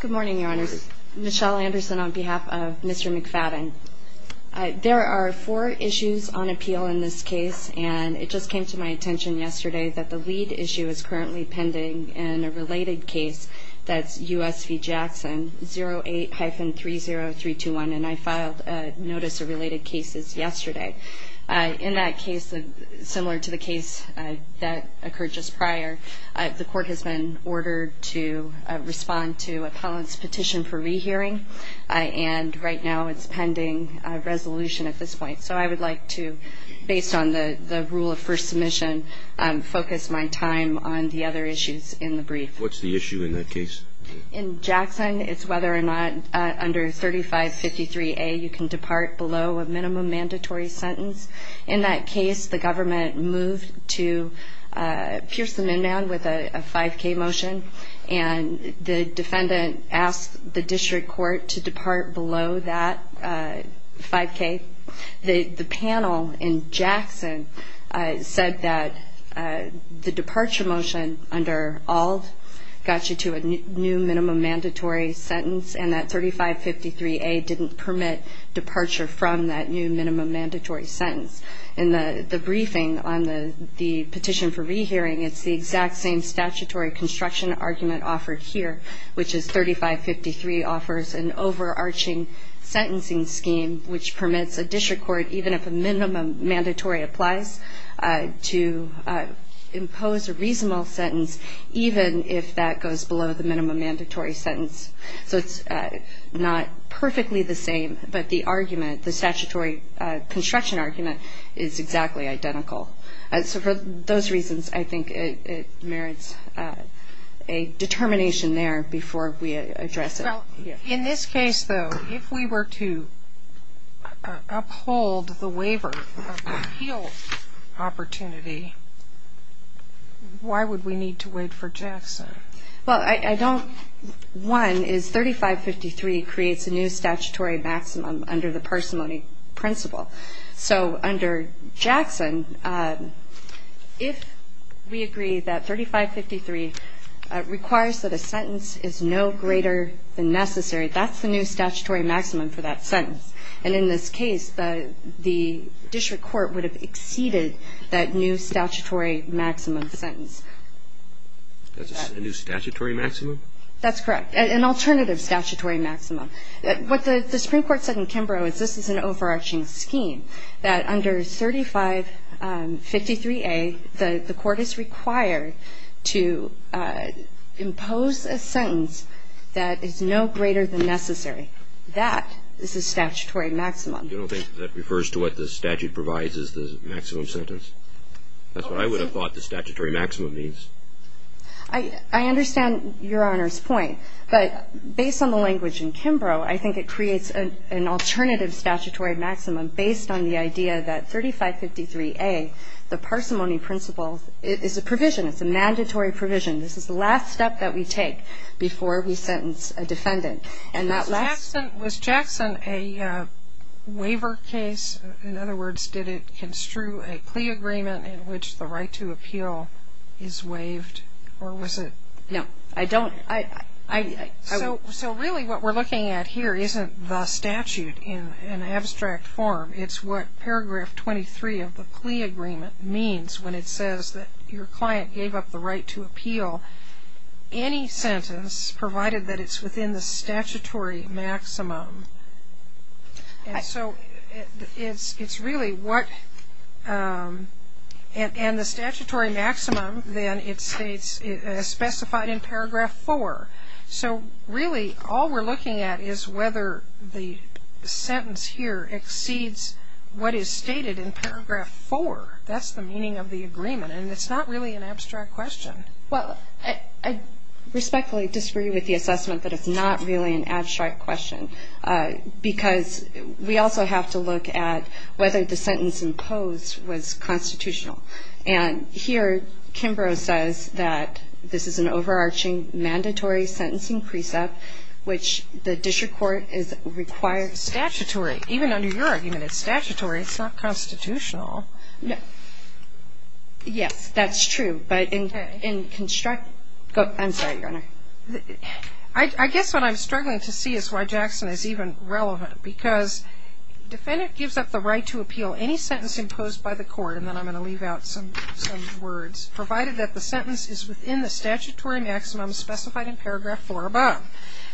Good morning, your honors. Michelle Anderson on behalf of Mr. McFadden. There are four issues on appeal in this case, and it just came to my attention yesterday that the lead issue is currently pending in a related case, that's U.S. v. Jackson, 08-30321, and I filed notice of related cases yesterday. In that case, similar to the case that occurred just prior, the court has been ordered to respond to a petition for rehearing, and right now it's pending resolution at this point. So I would like to, based on the rule of first submission, focus my time on the other issues in the brief. What's the issue in that case? In Jackson, it's whether or not under 3553A you can depart below a minimum mandatory sentence. In that case, the government moved to pierce the min band with a 5K motion, and the defendant asked the district court to depart below that 5K. The panel in Jackson said that the departure motion under ALD got you to a new minimum mandatory sentence, and that 3553A didn't permit departure from that new minimum mandatory sentence. In the briefing on the petition for rehearing, it's the exact same statutory construction argument offered here, which is 3553 offers an overarching sentencing scheme which permits a district court, even if a minimum mandatory applies, to impose a reasonable sentence, even if that goes below the minimum mandatory sentence. So it's not perfectly the same, but the argument, the statutory construction argument, is exactly identical. So for those reasons, I think it merits a determination there before we address it. Well, in this case, though, if we were to uphold the waiver of the appeal opportunity, why would we need to wait for Jackson? Well, I don't. One is 3553 creates a new statutory maximum under the parsimony principle. So under Jackson, if we agree that 3553 requires that a sentence is no greater than necessary, that's the new statutory maximum for that sentence. And in this case, the district court would have exceeded that new statutory maximum sentence. That's a new statutory maximum? That's correct, an alternative statutory maximum. What the Supreme Court said in Kimbrough is this is an overarching scheme, that under 3553A the court is required to impose a sentence that is no greater than necessary. That is the statutory maximum. You don't think that refers to what the statute provides as the maximum sentence? That's what I would have thought the statutory maximum means. I understand Your Honor's point, but based on the language in Kimbrough, I think it creates an alternative statutory maximum based on the idea that 3553A, the parsimony principle, is a provision. It's a mandatory provision. This is the last step that we take before we sentence a defendant. And that last step was a waiver case. In other words, did it construe a plea agreement in which the right to appeal is waived, or was it? No, I don't. So really what we're looking at here isn't the statute in an abstract form. It's what paragraph 23 of the plea agreement means when it says that your client gave up the right to appeal any sentence provided that it's within the statutory maximum. And so it's really what the statutory maximum then states as specified in paragraph 4. So really all we're looking at is whether the sentence here exceeds what is stated in paragraph 4. That's the meaning of the agreement. And it's not really an abstract question. Well, I respectfully disagree with the assessment that it's not really an abstract question because we also have to look at whether the sentence imposed was constitutional. And here Kimbrough says that this is an overarching mandatory sentencing precept, which the district court requires. Statutory. Even under your argument, it's statutory. It's not constitutional. Yes, that's true. I'm sorry, Your Honor. I guess what I'm struggling to see is why Jackson is even relevant because the defendant gives up the right to appeal any sentence imposed by the court, and then I'm going to leave out some words, provided that the sentence is within the statutory maximum specified in paragraph 4 above.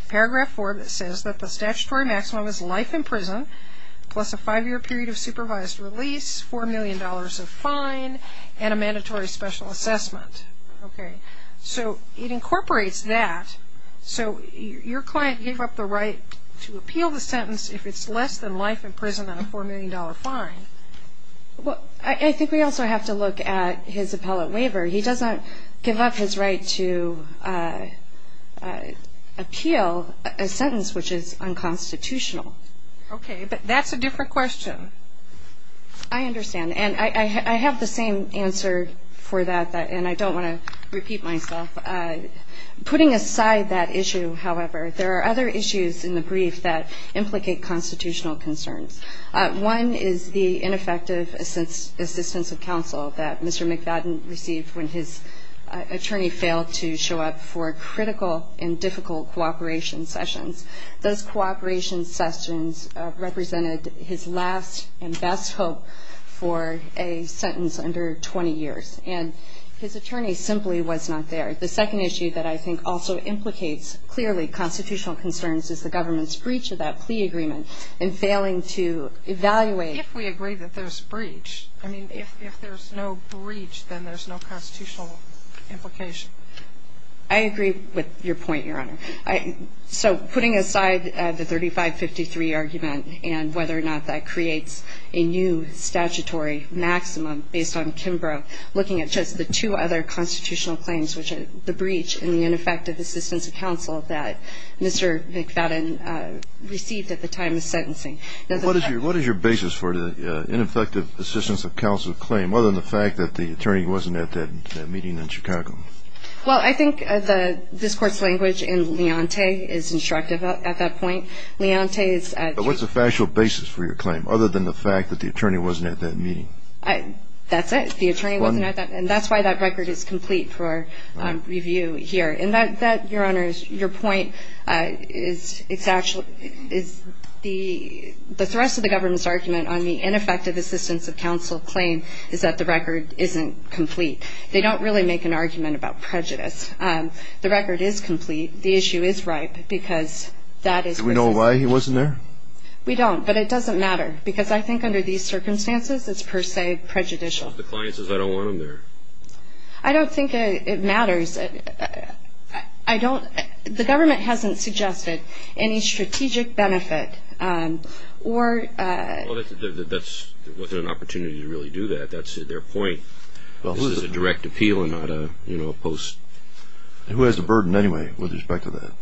Paragraph 4 says that the statutory maximum is life in prison plus a five-year period of supervised release, $4 million of fine, and a mandatory special assessment. Okay. So it incorporates that. So your client gave up the right to appeal the sentence if it's less than life in prison and a $4 million fine. Well, I think we also have to look at his appellate waiver. He does not give up his right to appeal a sentence which is unconstitutional. Okay, but that's a different question. I understand. And I have the same answer for that, and I don't want to repeat myself. Putting aside that issue, however, there are other issues in the brief that implicate constitutional concerns. One is the ineffective assistance of counsel that Mr. McFadden received when his attorney failed to show up for critical and difficult cooperation sessions. Those cooperation sessions represented his last and best hope for a sentence under 20 years, and his attorney simply was not there. The second issue that I think also implicates clearly constitutional concerns is the government's breach of that plea agreement in failing to evaluate. If we agree that there's breach. I mean, if there's no breach, then there's no constitutional implication. I agree with your point, Your Honor. So putting aside the 3553 argument and whether or not that creates a new statutory maximum based on Kimbrough, looking at just the two other constitutional claims, which are the breach and the ineffective assistance of counsel that Mr. McFadden received at the time of sentencing. What is your basis for the ineffective assistance of counsel claim other than the fact that the attorney wasn't at that meeting in Chicago? Well, I think this Court's language in Leontay is instructive at that point. Leontay is at the. But what's the factual basis for your claim other than the fact that the attorney wasn't at that meeting? That's it. The attorney wasn't at that. And that's why that record is complete for review here. And that, Your Honor, is your point. It's actually. The thrust of the government's argument on the ineffective assistance of counsel claim is that the record isn't complete. They don't really make an argument about prejudice. The record is complete. The issue is ripe because that is. Do we know why he wasn't there? We don't. But it doesn't matter because I think under these circumstances it's per se prejudicial. The client says I don't want him there. I don't think it matters. I don't. The government hasn't suggested any strategic benefit or. That's within an opportunity to really do that. That's their point. This is a direct appeal and not a post. Who has the burden anyway with respect to that?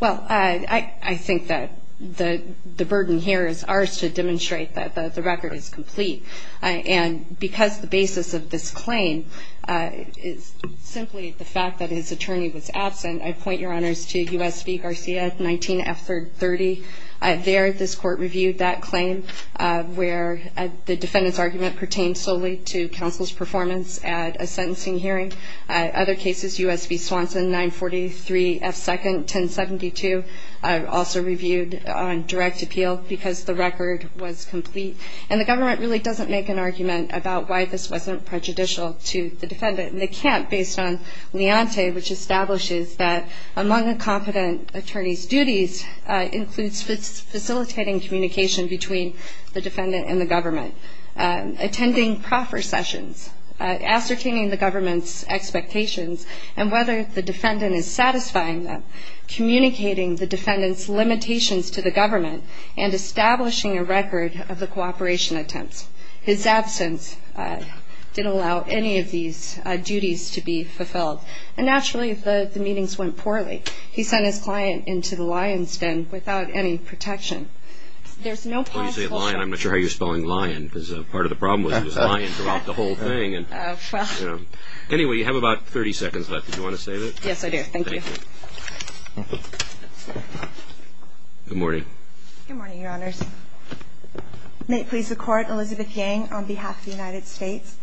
Well, I think that the burden here is ours to demonstrate that the record is complete. And because the basis of this claim is simply the fact that his attorney was absent, I point, Your Honors, to U.S. v. Garcia, 19F30. There this court reviewed that claim where the defendant's argument pertained solely to counsel's performance at a sentencing hearing. Other cases, U.S. v. Swanson, 943F2nd, 1072, also reviewed on direct appeal because the record was complete. And the government really doesn't make an argument about why this wasn't prejudicial to the defendant. And they can't based on Leonte, which establishes that among a competent attorney's duties includes facilitating communication between the defendant and the government, attending proper sessions, ascertaining the government's expectations and whether the defendant is satisfying them, communicating the defendant's limitations to the government, and establishing a record of the cooperation attempts. His absence didn't allow any of these duties to be fulfilled. And, naturally, the meetings went poorly. He sent his client into the lion's den without any protection. There's no possible way. You say lion. I'm not sure how you're spelling lion because part of the problem was lion throughout the whole thing. Anyway, you have about 30 seconds left. Do you want to say that? Yes, I do. Thank you. Good morning. Good morning, Your Honors. May it please the Court, Elizabeth Yang on behalf of the United States.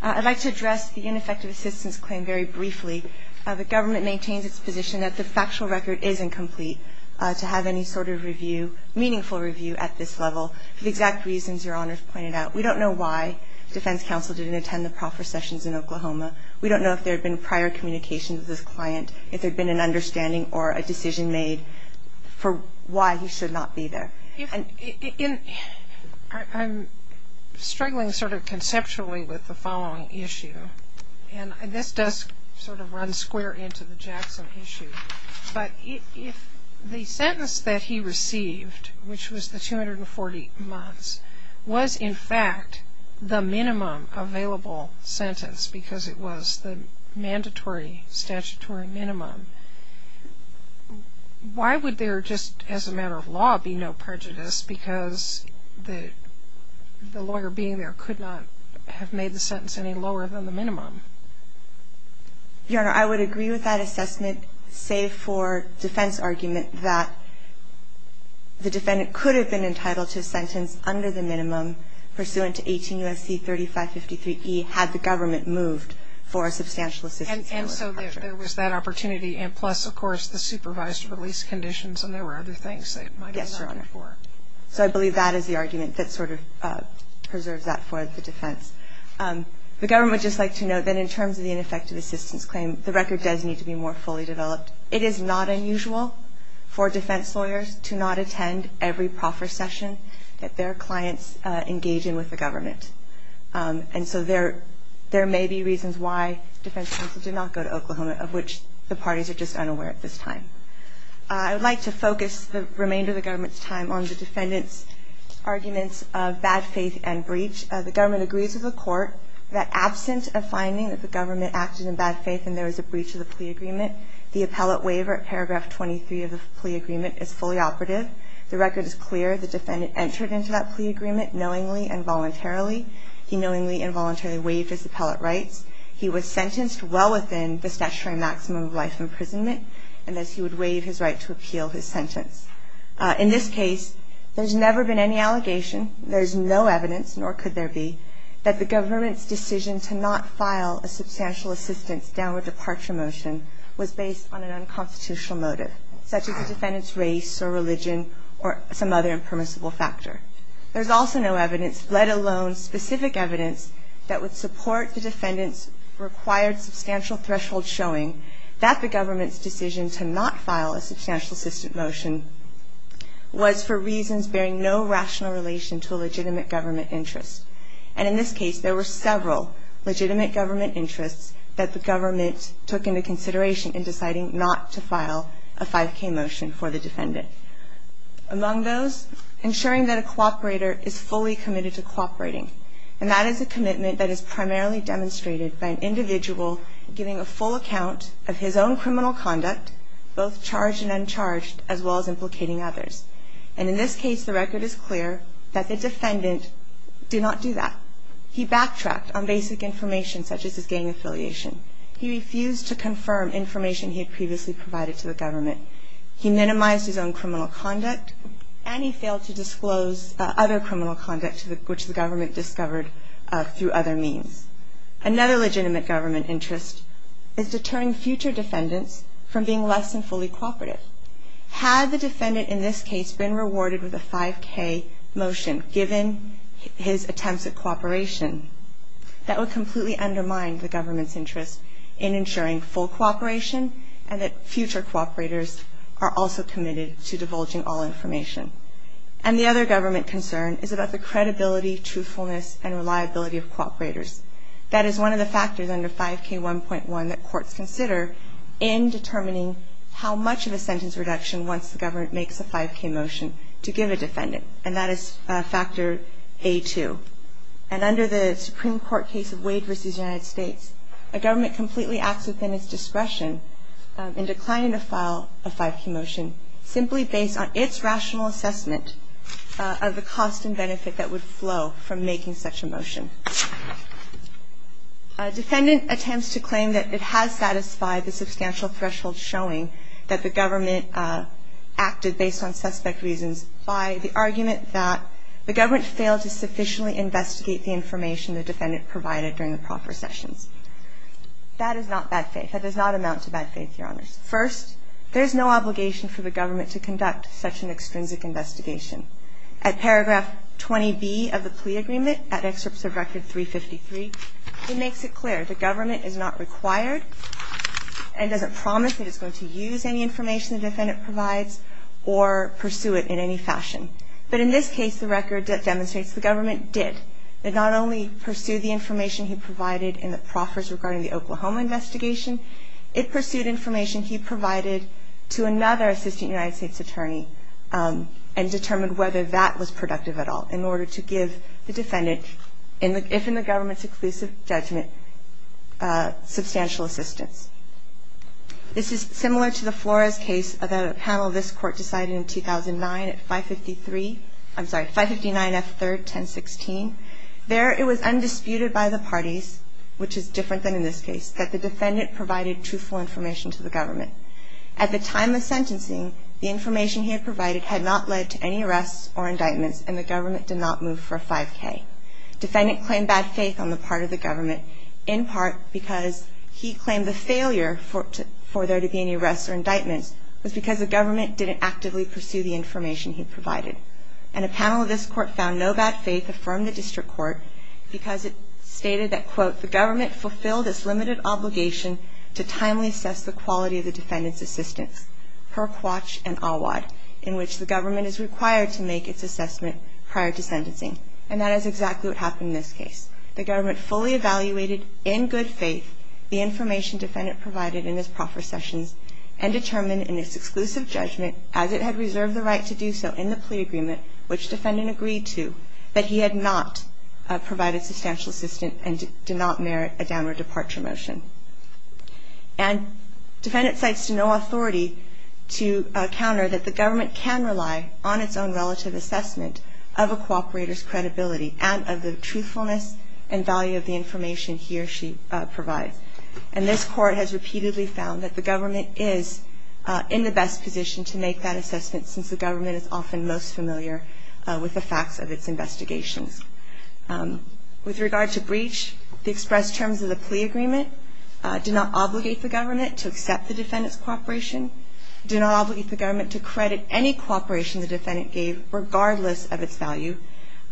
I'd like to address the ineffective assistance claim very briefly. The government maintains its position that the factual record is incomplete to have any sort of review. Meaningful review at this level for the exact reasons Your Honors pointed out. We don't know why defense counsel didn't attend the proper sessions in Oklahoma. We don't know if there had been prior communication with this client, if there had been an understanding or a decision made for why he should not be there. I'm struggling sort of conceptually with the following issue, and this does sort of run square into the Jackson issue. But if the sentence that he received, which was the 240 months, was in fact the minimum available sentence because it was the mandatory statutory minimum, why would there just as a matter of law be no prejudice because the lawyer being there could not have made the sentence any lower than the minimum? Your Honor, I would agree with that assessment, save for defense argument that the defendant could have been entitled to a sentence under the minimum pursuant to 18 U.S.C. 3553E had the government moved for a substantial assistance. And so there was that opportunity, and plus, of course, the supervised release conditions, and there were other things that might have been accounted for. Yes, Your Honor. So I believe that is the argument that sort of preserves that for the defense. The government would just like to note that in terms of the ineffective assistance claim, the record does need to be more fully developed. It is not unusual for defense lawyers to not attend every proffer session that their clients engage in with the government. And so there may be reasons why defense counsel did not go to Oklahoma, of which the parties are just unaware at this time. I would like to focus the remainder of the government's time on the defendant's arguments of bad faith and breach. The government agrees with the court that absent a finding that the government acted in bad faith and there was a breach of the plea agreement, the appellate waiver at paragraph 23 of the plea agreement is fully operative. The record is clear. The defendant entered into that plea agreement knowingly and voluntarily. He knowingly and voluntarily waived his appellate rights. He was sentenced well within the statutory maximum of life imprisonment, and thus he would waive his right to appeal his sentence. In this case, there has never been any allegation. There is no evidence, nor could there be, that the government's decision to not file a substantial assistance downward departure motion was based on an unconstitutional motive, such as the defendant's race or religion or some other impermissible factor. There is also no evidence, let alone specific evidence, that would support the defendant's required substantial threshold showing that the government's decision to not file a substantial assistance motion was for reasons bearing no rational relation to a legitimate government interest. And in this case, there were several legitimate government interests that the government took into consideration in deciding not to file a 5K motion for the defendant. Among those, ensuring that a cooperator is fully committed to cooperating. And that is a commitment that is primarily demonstrated by an individual giving a full account of his own criminal conduct, both charged and uncharged, as well as implicating others. And in this case, the record is clear that the defendant did not do that. He backtracked on basic information, such as his gang affiliation. He refused to confirm information he had previously provided to the government. He minimized his own criminal conduct, and he failed to disclose other criminal conduct which the government discovered through other means. Another legitimate government interest is deterring future defendants from being less than fully cooperative. Had the defendant in this case been rewarded with a 5K motion, given his attempts at cooperation, that would completely undermine the government's interest in ensuring full cooperation, and that future cooperators are also committed to divulging all information. And the other government concern is about the credibility, truthfulness, and reliability of cooperators. That is one of the factors under 5K1.1 that courts consider in determining how much of a sentence reduction once the government makes a 5K motion to give a defendant, and that is factor A2. And under the Supreme Court case of Wade v. United States, a government completely acts within its discretion in declining to file a 5K motion simply based on its rational assessment of the cost and benefit that would flow from making such a motion. A defendant attempts to claim that it has satisfied the substantial threshold showing that the government acted based on suspect reasons by the argument that the government failed to sufficiently investigate the information the defendant provided during the proper sessions. That is not bad faith. That does not amount to bad faith, Your Honors. First, there is no obligation for the government to conduct such an extrinsic investigation. At paragraph 20B of the plea agreement, at excerpts of record 353, it makes it clear the government is not required and doesn't promise that it's going to use any information the defendant provides or pursue it in any fashion. But in this case, the record demonstrates the government did. It not only pursued the information he provided in the proffers regarding the Oklahoma investigation, it pursued information he provided to another assistant United States attorney and determined whether that was productive at all in order to give the defendant, if in the government's exclusive judgment, substantial assistance. This is similar to the Flores case that a panel of this court decided in 2009 at 553. I'm sorry, 559F3, 1016. There it was undisputed by the parties, which is different than in this case, that the defendant provided truthful information to the government. At the time of sentencing, the information he had provided had not led to any arrests or indictments, and the government did not move for a 5K. Defendant claimed bad faith on the part of the government, in part because he claimed the failure for there to be any arrests or indictments was because the government didn't actively pursue the information he provided. And a panel of this court found no bad faith from the district court because it stated that, quote, the government fulfilled its limited obligation to timely assess the quality of the defendant's assistance, per Quach and Awad, in which the government is required to make its assessment prior to sentencing. And that is exactly what happened in this case. The government fully evaluated, in good faith, the information defendant provided in his proffer sessions and determined in its exclusive judgment, as it had reserved the right to do so in the plea agreement, which defendant agreed to, that he had not provided substantial assistance and did not merit a downward departure motion. And defendant cites no authority to counter that the government can rely on its own relative assessment of a cooperator's credibility and of the truthfulness and value of the information he or she provides. And this court has repeatedly found that the government is in the best position to make that assessment since the government is often most familiar with the facts of its investigations. With regard to breach, the express terms of the plea agreement did not obligate the government to accept the defendant's cooperation, did not obligate the government to credit any cooperation the defendant gave regardless of its value,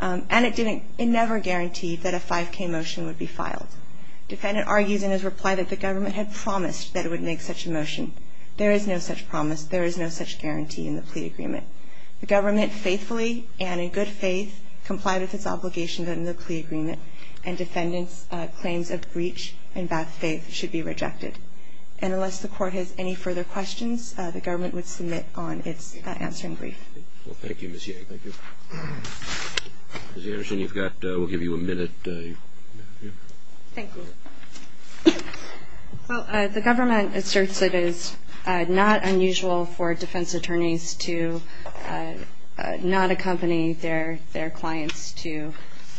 and it never guaranteed that a 5K motion would be filed. Defendant argues in his reply that the government had promised that it would make such a motion. There is no such promise. There is no such guarantee in the plea agreement. The government faithfully and in good faith complied with its obligation in the plea agreement, and defendant's claims of breach and bad faith should be rejected. And unless the Court has any further questions, the government would submit on its answering brief. Well, thank you, Ms. Yang. Thank you. Ms. Anderson, you've got we'll give you a minute. Thank you. Well, the government asserts it is not unusual for defense attorneys to not accompany their clients to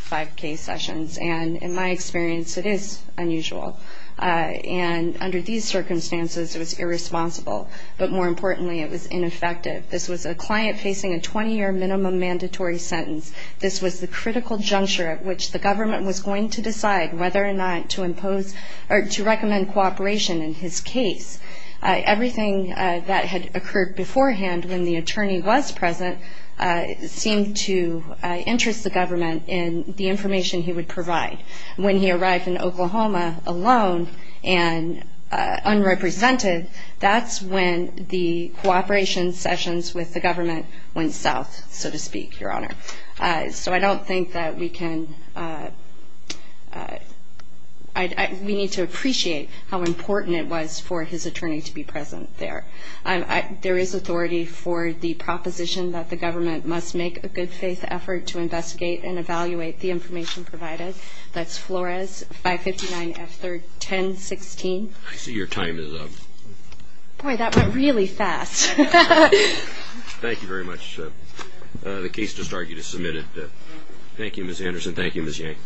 5K sessions, and in my experience, it is unusual. And under these circumstances, it was irresponsible, but more importantly, it was ineffective. This was a client facing a 20-year minimum mandatory sentence. This was the critical juncture at which the government was going to decide whether or not to impose or to recommend cooperation in his case. Everything that had occurred beforehand when the attorney was present seemed to interest the government in the information he would provide. When he arrived in Oklahoma alone and unrepresented, that's when the cooperation sessions with the government went south, so to speak, Your Honor. So I don't think that we can we need to appreciate how important it was for his attorney to be present there. There is authority for the proposition that the government must make a good faith effort to investigate and evaluate the information provided. That's Flores 559F1016. I see your time is up. Boy, that went really fast. Thank you very much. The case just argued is submitted. Thank you, Ms. Anderson. Thank you, Ms. Yang.